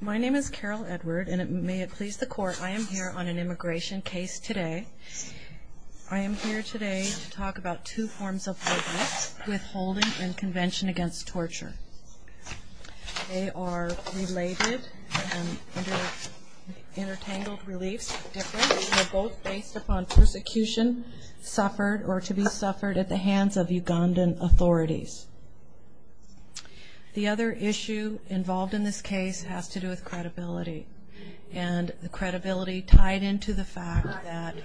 My name is Carol Edward, and may it please the court, I am here on an immigration case today. I am here today to talk about two forms of witness withholding in Convention Against Torture. They are related and under entangled reliefs. They're both based upon persecution suffered or to be suffered at the hands of Ugandan authorities. The other issue involved in this case has to do with credibility. And the credibility tied into the fact that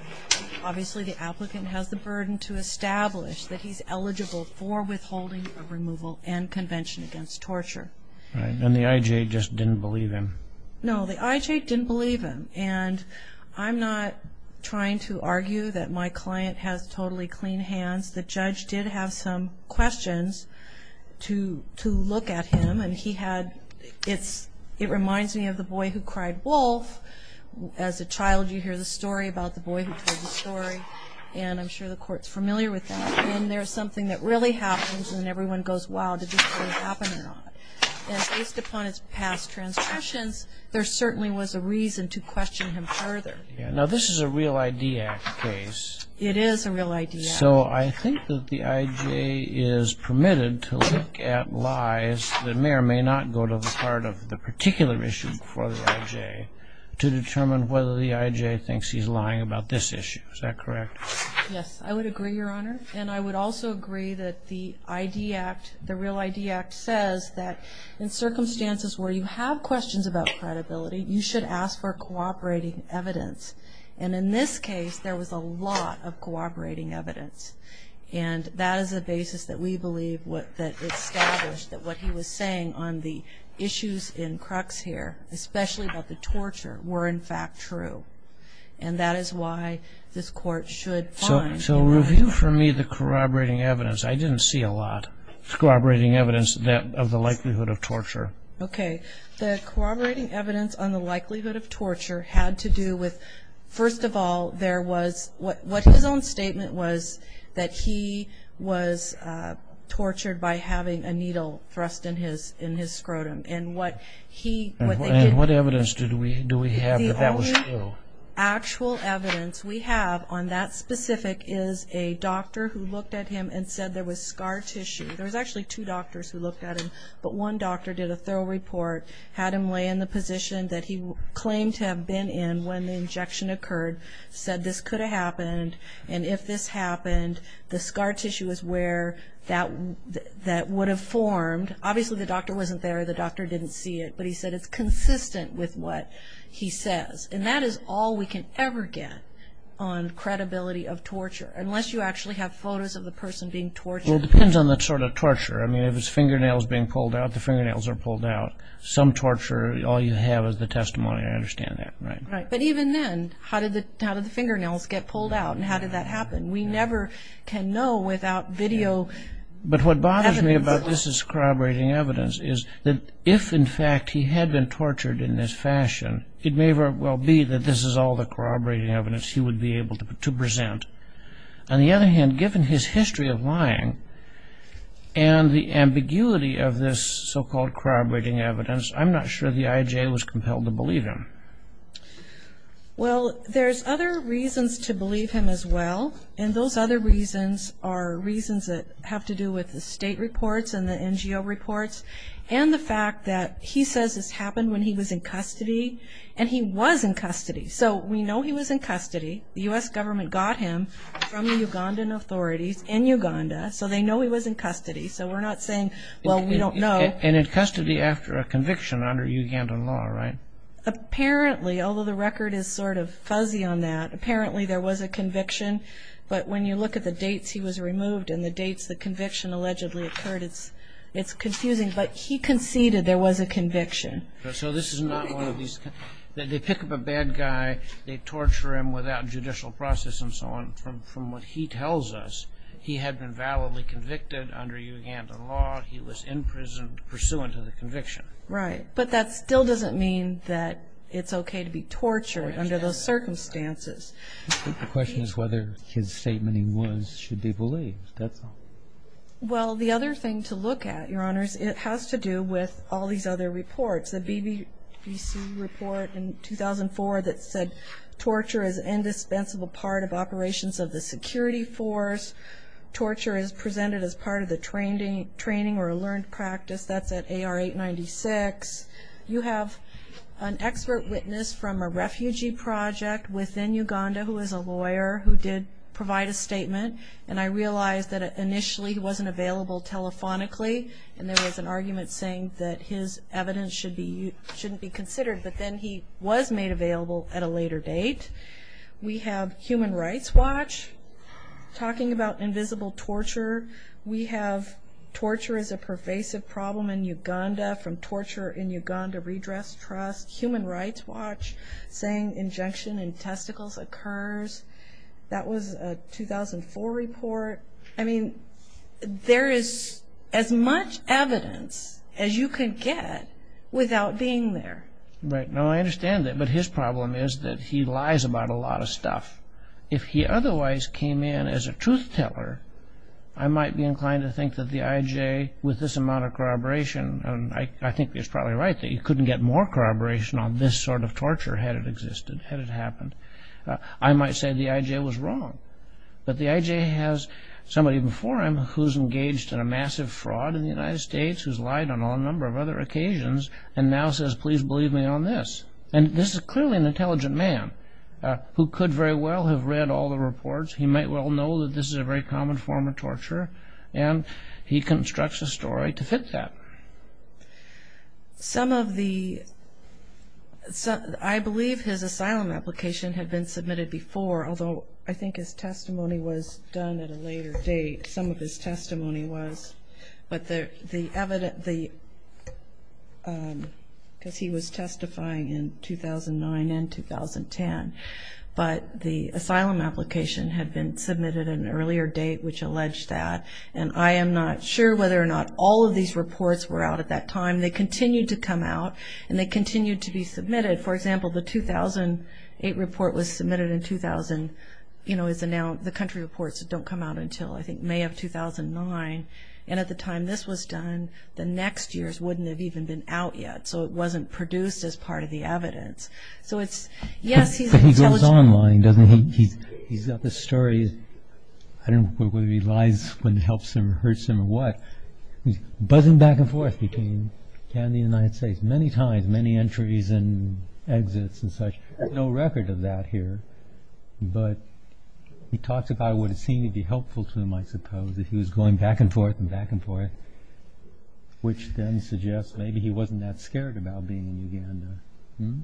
obviously the applicant has the burden to establish that he's eligible for withholding of removal and Convention Against Torture. And the IJ just didn't believe him. No, the IJ didn't believe him. And I'm not trying to argue that my client has totally clean hands. The judge did have some questions to look at him. And it reminds me of the boy who cried wolf. As a child, you hear the story about the boy who told the story. And I'm sure the court's familiar with that. And there's something that really happens, and everyone goes, wow, did this really happen or not? And based upon his past transgressions, there certainly was a reason to question him further. Now, this is a Real ID Act case. It is a Real ID Act case. So I think that the IJ is permitted to look at lies that may or may not go to the heart of the particular issue before the IJ to determine whether the IJ thinks he's lying about this issue. Is that correct? Yes, I would agree, Your Honor. And I would also agree that the ID Act, the Real ID Act, says that in circumstances where you have questions about credibility, you should ask for cooperating evidence. And in this case, there was a lot of cooperating evidence. And that is the basis that we believe that established that what he was saying on the issues in crux here, especially about the torture, were in fact true. And that is why this Court should find. So review for me the corroborating evidence. I didn't see a lot of corroborating evidence of the likelihood of torture. Okay. The corroborating evidence on the likelihood of torture had to do with, first of all, what his own statement was that he was tortured by having a needle thrust in his scrotum. And what evidence do we have that that was true? The only actual evidence we have on that specific is a doctor who looked at him and said there was scar tissue. There was actually two doctors who looked at him, but one doctor did a thorough report, had him lay in the position that he claimed to have been in when the injection occurred, said this could have happened, and if this happened, the scar tissue is where that would have formed. Obviously, the doctor wasn't there. The doctor didn't see it. But he said it's consistent with what he says. And that is all we can ever get on credibility of torture, unless you actually have photos of the person being tortured. Well, it depends on the sort of torture. I mean, if his fingernail is being pulled out, the fingernails are pulled out. Some torture, all you have is the testimony. I understand that. Right. But even then, how did the fingernails get pulled out, and how did that happen? We never can know without video evidence. But what bothers me about this corroborating evidence is that if, in fact, he had been tortured in this fashion, it may very well be that this is all the corroborating evidence he would be able to present. On the other hand, given his history of lying and the ambiguity of this so-called corroborating evidence, I'm not sure the IJ was compelled to believe him. Well, there's other reasons to believe him as well, and those other reasons are reasons that have to do with the state reports and the NGO reports and the fact that he says this happened when he was in custody, and he was in custody. So we know he was in custody. The U.S. government got him from the Ugandan authorities in Uganda, so they know he was in custody. So we're not saying, well, we don't know. And in custody after a conviction under Ugandan law, right? Apparently, although the record is sort of fuzzy on that, apparently there was a conviction. But when you look at the dates he was removed and the dates the conviction allegedly occurred, it's confusing. But he conceded there was a conviction. So this is not one of these – they pick up a bad guy, they torture him without judicial process and so on. From what he tells us, he had been validly convicted under Ugandan law. He was in prison pursuant to the conviction. Right. But that still doesn't mean that it's okay to be tortured under those circumstances. The question is whether his statement he was should be believed. That's all. Well, the other thing to look at, Your Honors, it has to do with all these other reports. There's a BBC report in 2004 that said, torture is an indispensable part of operations of the security force. Torture is presented as part of the training or learned practice. That's at AR-896. You have an expert witness from a refugee project within Uganda who is a lawyer who did provide a statement. And I realize that initially he wasn't available telephonically, and there was an argument saying that his evidence shouldn't be considered. But then he was made available at a later date. We have Human Rights Watch talking about invisible torture. We have torture is a pervasive problem in Uganda from Torture in Uganda Redress Trust. Human Rights Watch saying injunction in testicles occurs. That was a 2004 report. I mean, there is as much evidence as you can get without being there. Right. No, I understand that. But his problem is that he lies about a lot of stuff. If he otherwise came in as a truth teller, I might be inclined to think that the IJ, with this amount of corroboration, and I think he's probably right that he couldn't get more corroboration on this sort of torture had it existed, had it happened. I might say the IJ was wrong. But the IJ has somebody before him who's engaged in a massive fraud in the United States, who's lied on a number of other occasions, and now says, please believe me on this. And this is clearly an intelligent man who could very well have read all the reports. He might well know that this is a very common form of torture, and he constructs a story to fit that. Some of the – I believe his asylum application had been submitted before, although I think his testimony was done at a later date. Some of his testimony was. But the evidence – because he was testifying in 2009 and 2010. But the asylum application had been submitted at an earlier date, which alleged that. And I am not sure whether or not all of these reports were out at that time. They continued to come out, and they continued to be submitted. For example, the 2008 report was submitted in 2000. The country reports don't come out until, I think, May of 2009. And at the time this was done, the next years wouldn't have even been out yet. So it wasn't produced as part of the evidence. So it's – yes, he's intelligent. But he goes online, doesn't he? He's got this story. I don't know whether he lies when it helps him or hurts him or what. He's buzzing back and forth between Canada and the United States many times, has many entries and exits and such. There's no record of that here. But he talks about it would seem to be helpful to him, I suppose, if he was going back and forth and back and forth, which then suggests maybe he wasn't that scared about being in Uganda.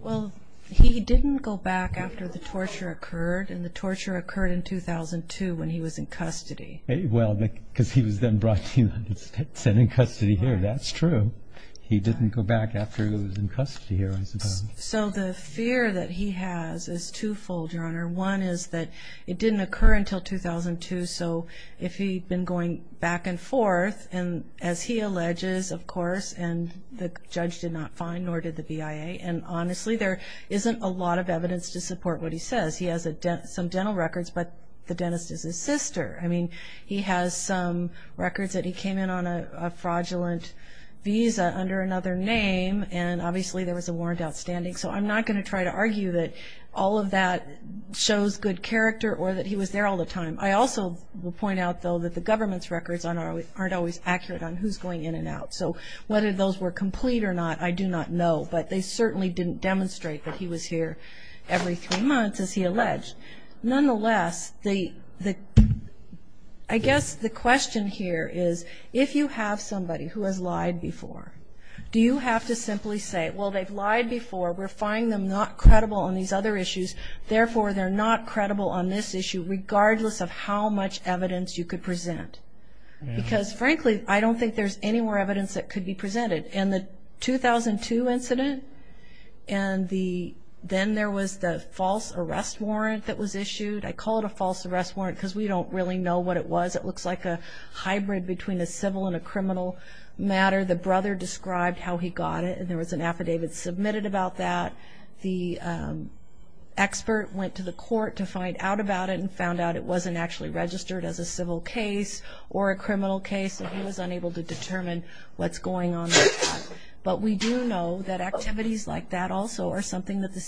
Well, he didn't go back after the torture occurred, and the torture occurred in 2002 when he was in custody. Well, because he was then brought to the United States and in custody here. That's true. So he didn't go back after he was in custody here, I suppose. So the fear that he has is twofold, Your Honor. One is that it didn't occur until 2002, so if he'd been going back and forth, and as he alleges, of course, and the judge did not find, nor did the BIA. And honestly, there isn't a lot of evidence to support what he says. He has some dental records, but the dentist is his sister. I mean, he has some records that he came in on a fraudulent visa under another name, and obviously there was a warrant outstanding. So I'm not going to try to argue that all of that shows good character or that he was there all the time. I also will point out, though, that the government's records aren't always accurate on who's going in and out. So whether those were complete or not, I do not know. But they certainly didn't demonstrate that he was here every three months, as he alleged. Nonetheless, I guess the question here is, if you have somebody who has lied before, do you have to simply say, well, they've lied before, we're finding them not credible on these other issues, therefore they're not credible on this issue, regardless of how much evidence you could present? Because, frankly, I don't think there's any more evidence that could be presented. In the 2002 incident, and then there was the false arrest warrant that was issued. I call it a false arrest warrant because we don't really know what it was. It looks like a hybrid between a civil and a criminal matter. The brother described how he got it, and there was an affidavit submitted about that. The expert went to the court to find out about it and found out it wasn't actually registered as a civil case or a criminal case, and he was unable to determine what's going on with that. But we do know that activities like that also are something that the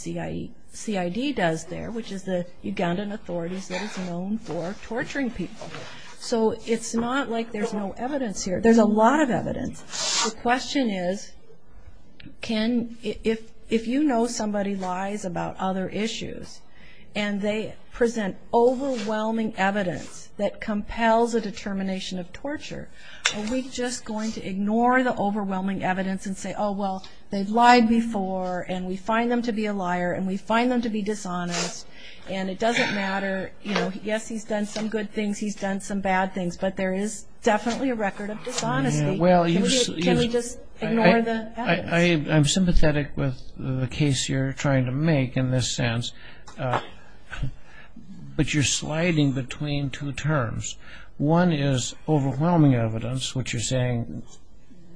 CID does there, which is the Ugandan authorities that is known for torturing people. So it's not like there's no evidence here. There's a lot of evidence. The question is, if you know somebody lies about other issues, and they present overwhelming evidence that compels a determination of torture, are we just going to ignore the overwhelming evidence and say, oh, well, they've lied before, and we find them to be a liar, and we find them to be dishonest, and it doesn't matter. Yes, he's done some good things, he's done some bad things, but there is definitely a record of dishonesty. Can we just ignore the evidence? I'm sympathetic with the case you're trying to make in this sense, but you're sliding between two terms. One is overwhelming evidence, which you're saying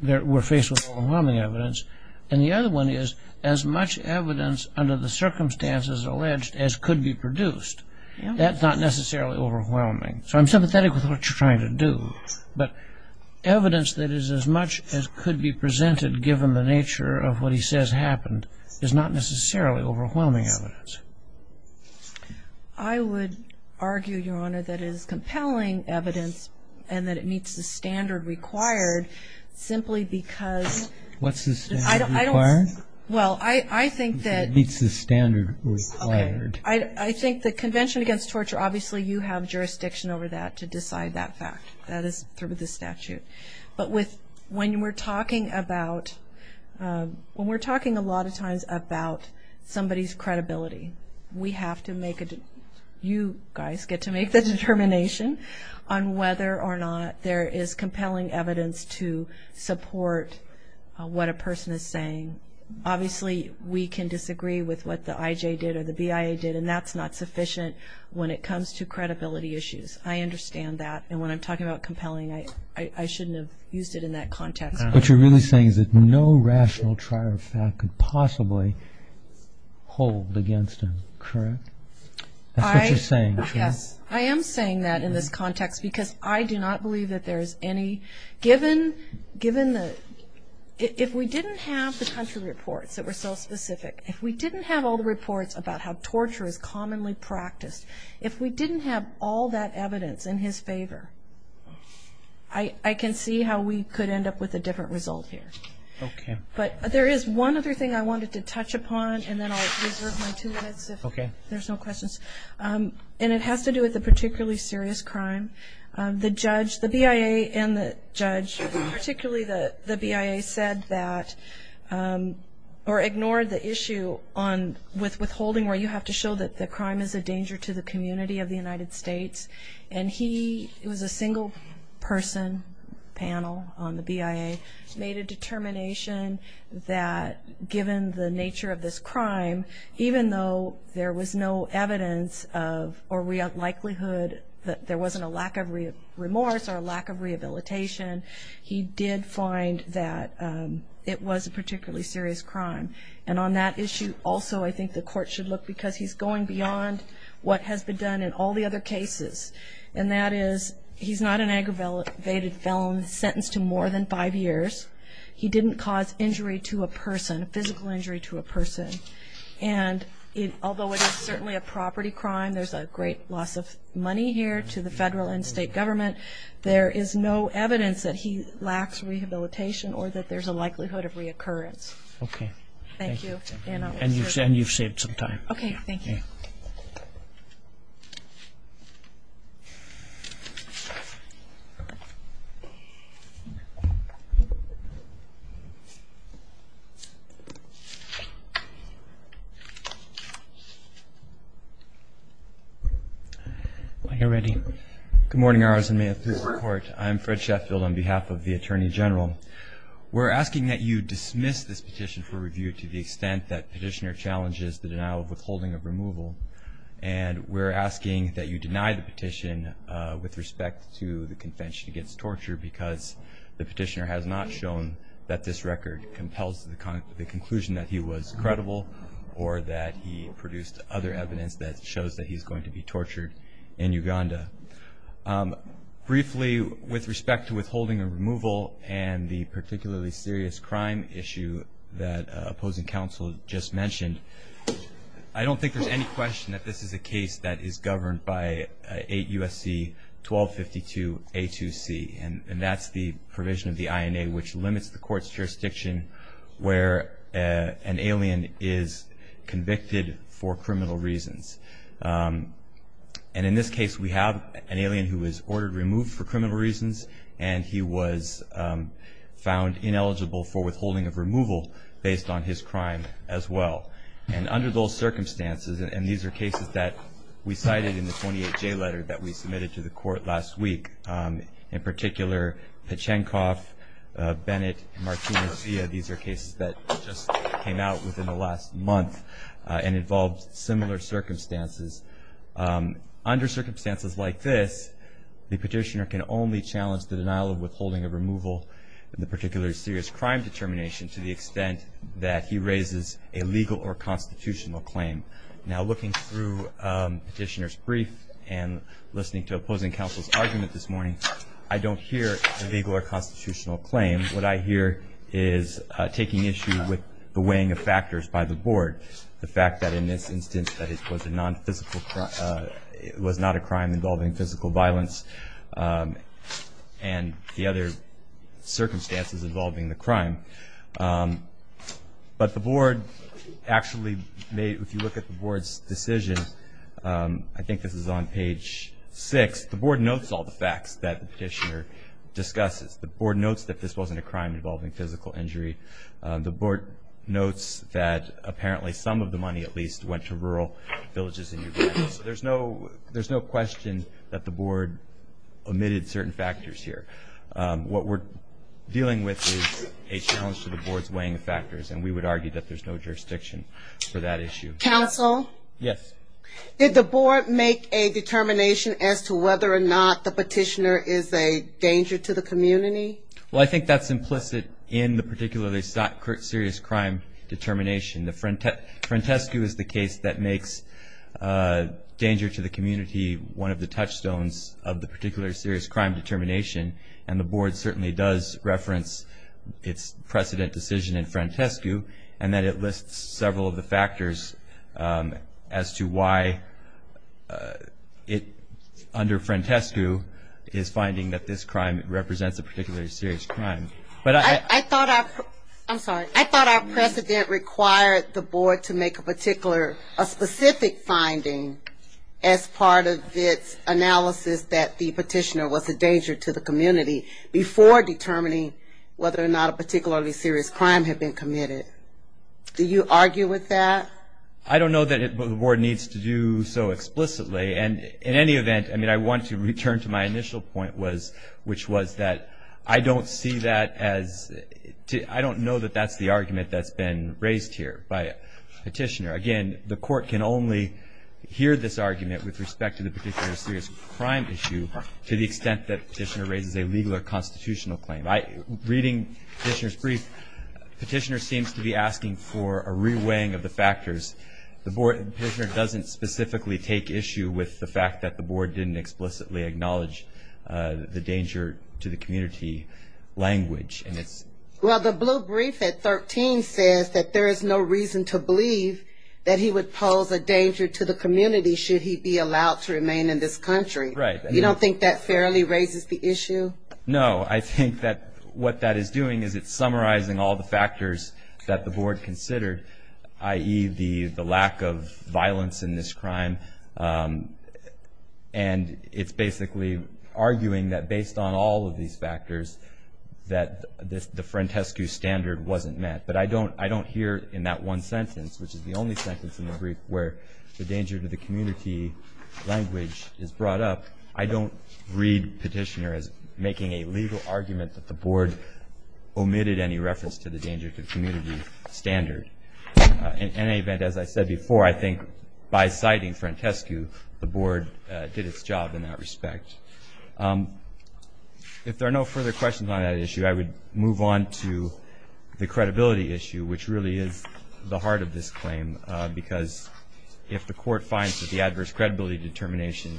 we're faced with overwhelming evidence, and the other one is as much evidence under the circumstances alleged as could be produced. That's not necessarily overwhelming. So I'm sympathetic with what you're trying to do, but evidence that is as much as could be presented, given the nature of what he says happened, is not necessarily overwhelming evidence. I would argue, Your Honor, that it is compelling evidence and that it meets the standard required simply because – What's the standard required? Well, I think that – It meets the standard required. Okay. I think the Convention Against Torture, obviously you have jurisdiction over that to decide that fact. That is through the statute. But when we're talking about – when we're talking a lot of times about somebody's credibility, we have to make – you guys get to make the determination on whether or not there is compelling evidence to support what a person is saying. Obviously, we can disagree with what the IJ did or the BIA did, and that's not sufficient when it comes to credibility issues. I understand that. And when I'm talking about compelling, I shouldn't have used it in that context. What you're really saying is that no rational trial of fact could possibly hold against him, correct? That's what you're saying. Yes. I am saying that in this context because I do not believe that there is any – given the – if we didn't have the country reports that were so specific, if we didn't have all the reports about how torture is commonly practiced, if we didn't have all that evidence in his favor, I can see how we could end up with a different result here. Okay. But there is one other thing I wanted to touch upon, and then I'll reserve my two minutes if there's no questions. And it has to do with a particularly serious crime. The judge – the BIA and the judge, particularly the BIA, said that – or ignored the issue on withholding where you have to show that the crime is a danger to the community of the United States. And he – it was a single-person panel on the BIA – made a determination that given the nature of this crime, even though there was no evidence of – or likelihood that there wasn't a lack of remorse or a lack of rehabilitation, he did find that it was a particularly serious crime. And on that issue also I think the court should look, because he's going beyond what has been done in all the other cases, and that is he's not an aggravated felon sentenced to more than five years. He didn't cause injury to a person, physical injury to a person. And although it is certainly a property crime, there's a great loss of money here to the federal and state government. There is no evidence that he lacks rehabilitation or that there's a likelihood of reoccurrence. Okay. Thank you. And you've saved some time. Okay, thank you. Are you ready? Good morning, Your Honors and may it please the Court. I'm Fred Sheffield on behalf of the Attorney General. We're asking that you dismiss this petition for review to the extent that petitioner challenges the denial of withholding of removal. And we're asking that you deny the petition with respect to the Convention Against Torture because the petitioner has not shown that this record compels the conclusion that he was credible or that he produced other evidence that shows that he's going to be tortured in Uganda. Briefly, with respect to withholding of removal and the particularly serious crime issue that opposing counsel just mentioned, I don't think there's any question that this is a case that is governed by 8 U.S.C. 1252 A2C, and that's the provision of the INA which limits the court's jurisdiction where an alien is convicted for criminal reasons. And in this case we have an alien who was ordered removed for criminal reasons and he was found ineligible for withholding of removal based on his crime as well. And under those circumstances, and these are cases that we cited in the 28-J letter that we submitted to the court last week, in particular Pachenkov, Bennett, and Martino-Zia, these are cases that just came out within the last month and involved similar circumstances. Under circumstances like this, the petitioner can only challenge the denial of withholding of removal and the particularly serious crime determination to the extent that he raises a legal or constitutional claim. Now looking through petitioner's brief and listening to opposing counsel's argument this morning, I don't hear a legal or constitutional claim. What I hear is taking issue with the weighing of factors by the board, the fact that in this instance that it was not a crime involving physical violence and the other circumstances involving the crime. But the board actually made, if you look at the board's decision, I think this is on page 6, the board notes all the facts that the petitioner discusses. The board notes that this wasn't a crime involving physical injury. The board notes that apparently some of the money at least went to rural villages in Uganda. So there's no question that the board omitted certain factors here. What we're dealing with is a challenge to the board's weighing of factors and we would argue that there's no jurisdiction for that issue. Counsel? Yes. Did the board make a determination as to whether or not the petitioner is a danger to the community? Well, I think that's implicit in the particularly serious crime determination. The Frantescu is the case that makes danger to the community one of the touchstones of the particularly serious crime determination, and the board certainly does reference its precedent decision in Frantescu and that it lists several of the factors as to why it, under Frantescu, is finding that this crime represents a particularly serious crime. I thought our precedent required the board to make a particular, a specific finding as part of its analysis that the petitioner was a danger to the community before determining whether or not a particularly serious crime had been committed. Do you argue with that? I don't know that the board needs to do so explicitly. And in any event, I mean, I want to return to my initial point, which was that I don't see that as, I don't know that that's the argument that's been raised here by a petitioner. Again, the court can only hear this argument with respect to the particular serious crime issue to the extent that the petitioner raises a legal or constitutional claim. Reading the petitioner's brief, the petitioner seems to be asking for a re-weighing of the factors. The petitioner doesn't specifically take issue with the fact that the board didn't explicitly acknowledge the danger to the community language. Well, the blue brief at 13 says that there is no reason to believe that he would pose a danger to the community should he be allowed to remain in this country. Right. You don't think that fairly raises the issue? No. I think that what that is doing is it's summarizing all the factors that the board considered, i.e., the lack of violence in this crime. And it's basically arguing that based on all of these factors, that the Frantescu standard wasn't met. But I don't hear in that one sentence, which is the only sentence in the brief, where the danger to the community language is brought up, I don't read petitioner as making a legal argument that the board omitted any reference to the danger to community standard. In any event, as I said before, I think by citing Frantescu, the board did its job in that respect. If there are no further questions on that issue, I would move on to the credibility issue, which really is the heart of this claim, because if the court finds that the adverse credibility determination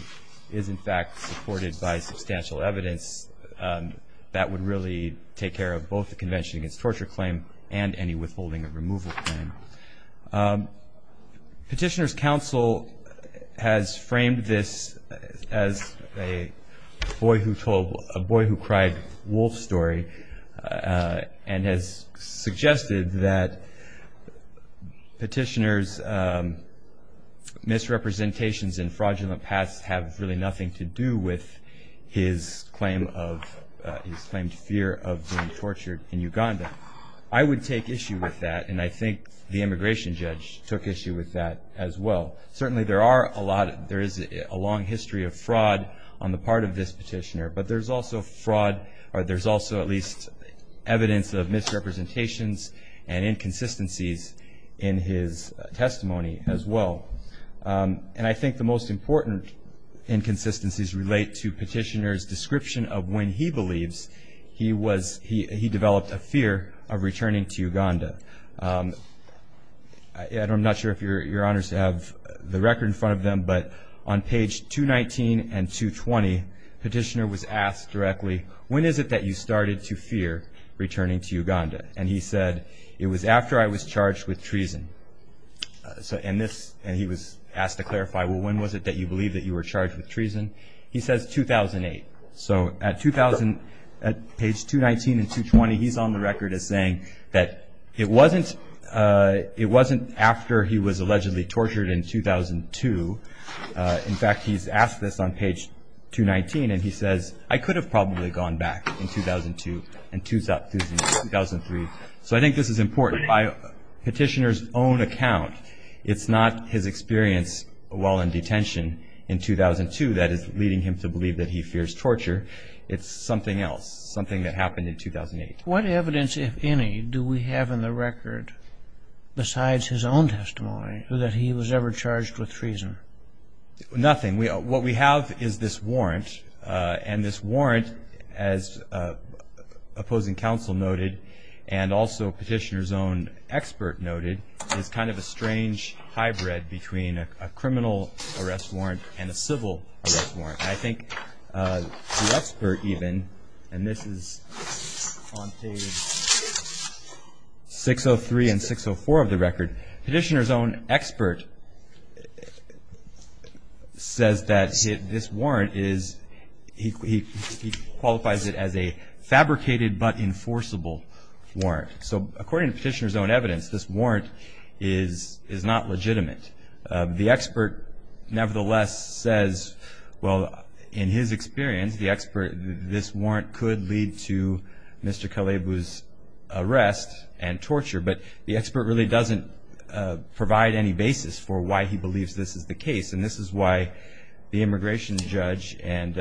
is, in fact, supported by substantial evidence, that would really take care of both the Convention Against Torture claim and any withholding of removal claim. Petitioner's counsel has framed this as a boy who told a boy who cried wolf story and has suggested that petitioner's misrepresentations and fraudulent pasts have really nothing to do with his claimed fear of being tortured in Uganda. I would take issue with that, and I think the immigration judge took issue with that as well. Certainly there is a long history of fraud on the part of this petitioner, but there's also at least evidence of misrepresentations and inconsistencies in his testimony as well. And I think the most important inconsistencies relate to petitioner's description of when he believes he developed a fear of returning to Uganda. I'm not sure if Your Honors have the record in front of them, but on page 219 and 220, petitioner was asked directly, when is it that you started to fear returning to Uganda? And he said, it was after I was charged with treason. And he was asked to clarify, well, when was it that you believed that you were charged with treason? He says 2008. So at page 219 and 220, he's on the record as saying that it wasn't after he was allegedly tortured in 2002. In fact, he's asked this on page 219, and he says, I could have probably gone back in 2002 and 2003. So I think this is important. By petitioner's own account, it's not his experience while in detention in 2002 that is leading him to believe that he fears torture. It's something else, something that happened in 2008. What evidence, if any, do we have in the record besides his own testimony that he was ever charged with treason? Nothing. What we have is this warrant, and this warrant, as opposing counsel noted and also petitioner's own expert noted, is kind of a strange hybrid between a criminal arrest warrant and a civil arrest warrant. I think the expert even, and this is on page 603 and 604 of the record, petitioner's own expert says that this warrant is, he qualifies it as a fabricated but enforceable warrant. So according to petitioner's own evidence, this warrant is not legitimate. The expert nevertheless says, well, in his experience, the expert, this warrant could lead to Mr. Kalebu's arrest and torture, but the expert really doesn't provide any basis for why he believes this is the case, and this is why the immigration judge and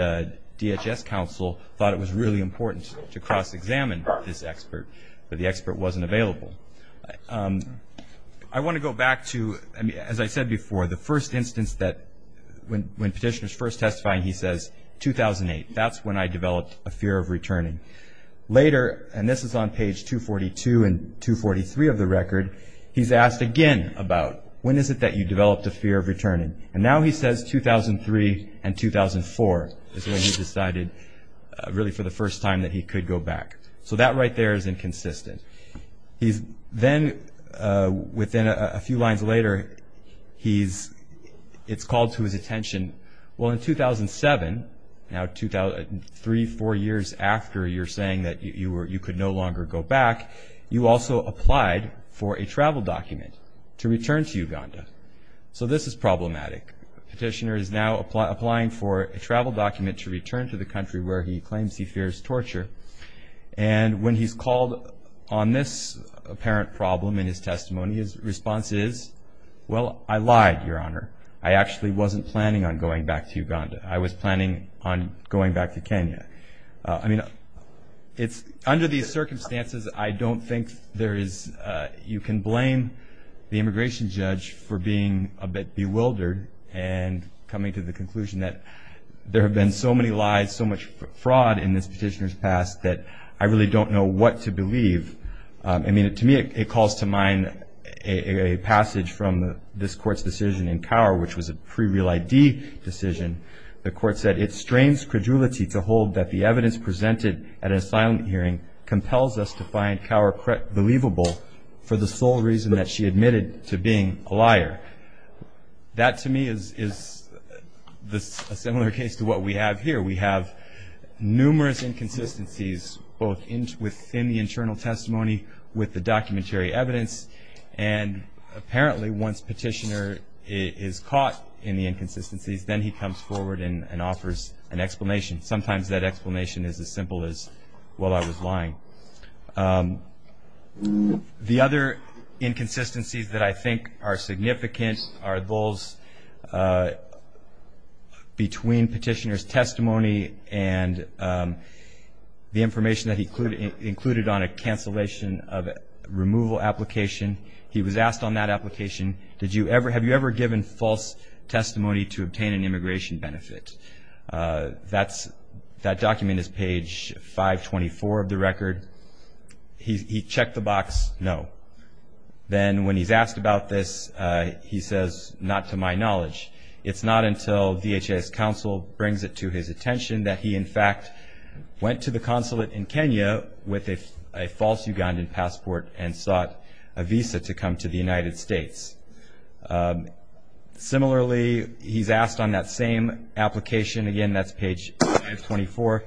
DHS counsel thought it was really important to cross-examine this expert, but the expert wasn't available. I want to go back to, as I said before, the first instance that when petitioner's first testifying, he says 2008. That's when I developed a fear of returning. Later, and this is on page 242 and 243 of the record, he's asked again about when is it that you developed a fear of returning, and now he says 2003 and 2004 is when he decided really for the first time that he could go back. So that right there is inconsistent. Then within a few lines later, it's called to his attention, well, in 2007, now three, four years after you're saying that you could no longer go back, you also applied for a travel document to return to Uganda. So this is problematic. Petitioner is now applying for a travel document to return to the country where he claims he fears torture, and when he's called on this apparent problem in his testimony, his response is, well, I lied, Your Honor. I actually wasn't planning on going back to Uganda. I was planning on going back to Kenya. I mean, under these circumstances, I don't think you can blame the immigration judge for being a bit bewildered and coming to the conclusion that there have been so many lies, so much fraud in this petitioner's past that I really don't know what to believe. I mean, to me, it calls to mind a passage from this Court's decision in Cower, which was a pre-real ID decision. The Court said, it strains credulity to hold that the evidence presented at an asylum hearing compels us to find Cower believable That, to me, is a similar case to what we have here. We have numerous inconsistencies both within the internal testimony with the documentary evidence, and apparently once petitioner is caught in the inconsistencies, then he comes forward and offers an explanation. Sometimes that explanation is as simple as, well, I was lying. The other inconsistencies that I think are significant are those between petitioner's testimony and the information that he included on a cancellation of removal application. He was asked on that application, have you ever given false testimony to obtain an immigration benefit? That document is page 524 of the record. He checked the box, no. Then when he's asked about this, he says, not to my knowledge. It's not until DHS counsel brings it to his attention that he in fact went to the consulate in Kenya with a false Ugandan passport and sought a visa to come to the United States. Similarly, he's asked on that same application, again, that's page 524,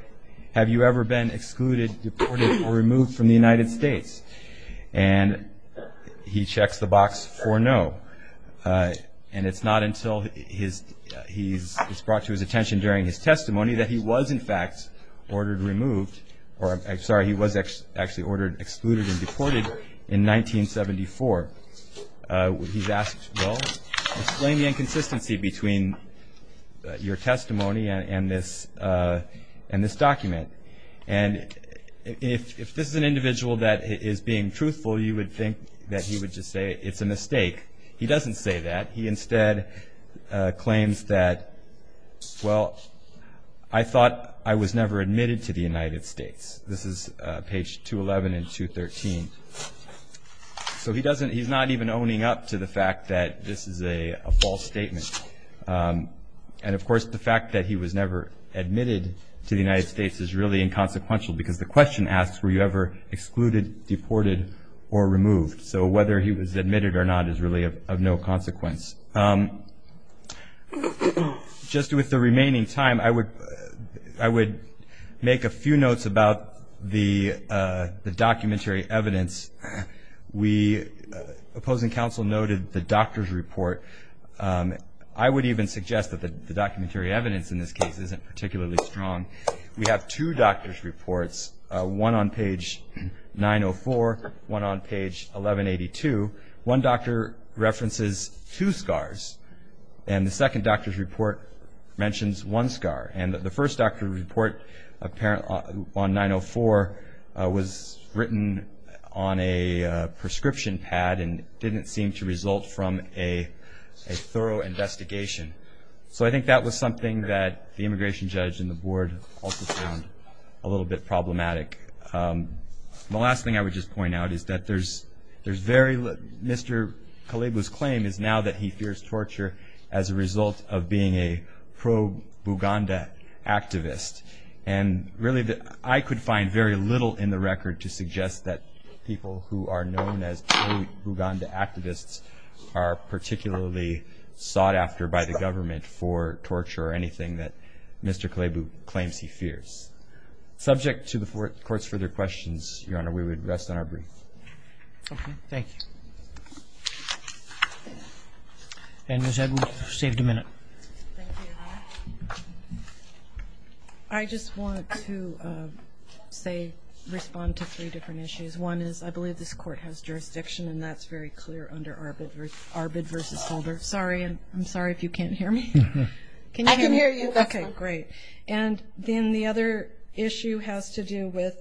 have you ever been excluded, deported, or removed from the United States? And he checks the box for no. And it's not until he's brought to his attention during his testimony that he was in fact ordered removed, or I'm sorry, he was actually ordered excluded and deported in 1974. He's asked, well, explain the inconsistency between your testimony and this document. And if this is an individual that is being truthful, you would think that he would just say it's a mistake. He doesn't say that. He instead claims that, well, I thought I was never admitted to the United States. This is page 211 and 213. So he's not even owning up to the fact that this is a false statement. And, of course, the fact that he was never admitted to the United States is really inconsequential because the question asks were you ever excluded, deported, or removed. So whether he was admitted or not is really of no consequence. Just with the remaining time, I would make a few notes about the documentary evidence. We, opposing counsel noted the doctor's report. I would even suggest that the documentary evidence in this case isn't particularly strong. We have two doctor's reports, one on page 904, one on page 1182. One doctor references two scars, and the second doctor's report mentions one scar. And the first doctor's report on 904 was written on a prescription pad and didn't seem to result from a thorough investigation. So I think that was something that the immigration judge and the board also found a little bit problematic. The last thing I would just point out is that Mr. Kalebu's claim is now that he fears torture as a result of being a pro-Buganda activist. And really I could find very little in the record to suggest that people who are known as pro-Buganda activists are particularly sought after by the government for torture or anything that Mr. Kalebu claims he fears. Subject to the Court's further questions, Your Honor, we would rest on our brief. Thank you. And Ms. Edwards, you've saved a minute. I just want to say, respond to three different issues. One is I believe this Court has jurisdiction, and that's very clear under Arbid v. Holder. Sorry, I'm sorry if you can't hear me. I can hear you. Okay, great. And then the other issue has to do with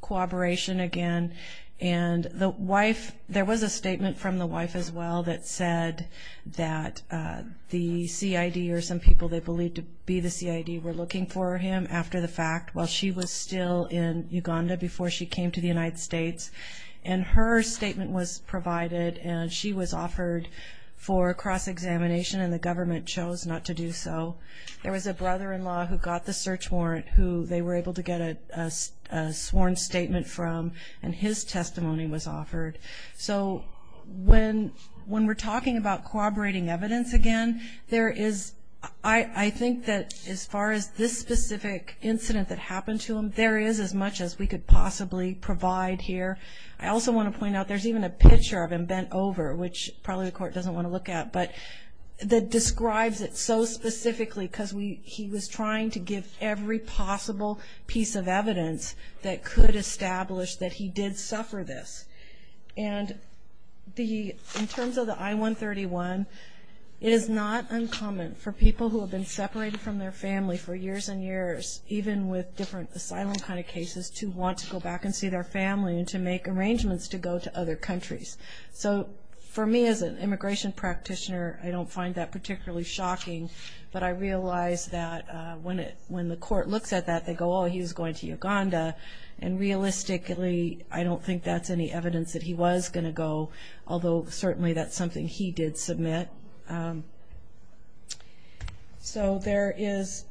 cooperation again. And the wife, there was a statement from the wife as well that said that the CID or some people they believed to be the CID were looking for him after the fact while she was still in Uganda before she came to the United States. And her statement was provided, and she was offered for cross-examination, and the government chose not to do so. There was a brother-in-law who got the search warrant who they were able to get a sworn statement from, and his testimony was offered. So when we're talking about corroborating evidence again, I think that as far as this specific incident that happened to him, there is as much as we could possibly provide here. I also want to point out there's even a picture of him bent over, which probably the Court doesn't want to look at, but that describes it so specifically because he was trying to give every possible piece of evidence that could establish that he did suffer this. And in terms of the I-131, it is not uncommon for people who have been separated from their family for years and years, even with different asylum kind of cases, to want to go back and see their family and to make arrangements to go to other countries. So for me as an immigration practitioner, I don't find that particularly shocking, but I realize that when the Court looks at that, they go, oh, he was going to Uganda, and realistically I don't think that's any evidence that he was going to go, although certainly that's something he did submit. So there is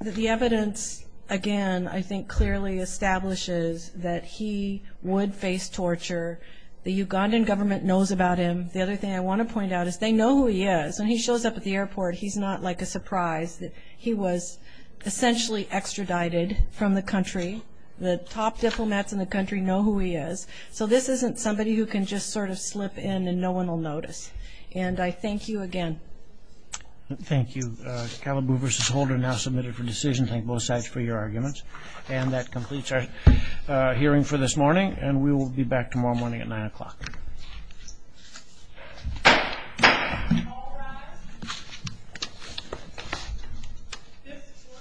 the evidence, again, I think clearly establishes that he would face torture. The Ugandan government knows about him. The other thing I want to point out is they know who he is. When he shows up at the airport, he's not like a surprise that he was essentially extradited from the country. The top diplomats in the country know who he is. So this isn't somebody who can just sort of slip in and no one will notice. And I thank you again. Thank you. Kalibu v. Holder now submitted for decision. Thank both sides for your arguments. And that completes our hearing for this morning, and we will be back tomorrow morning at 9 o'clock.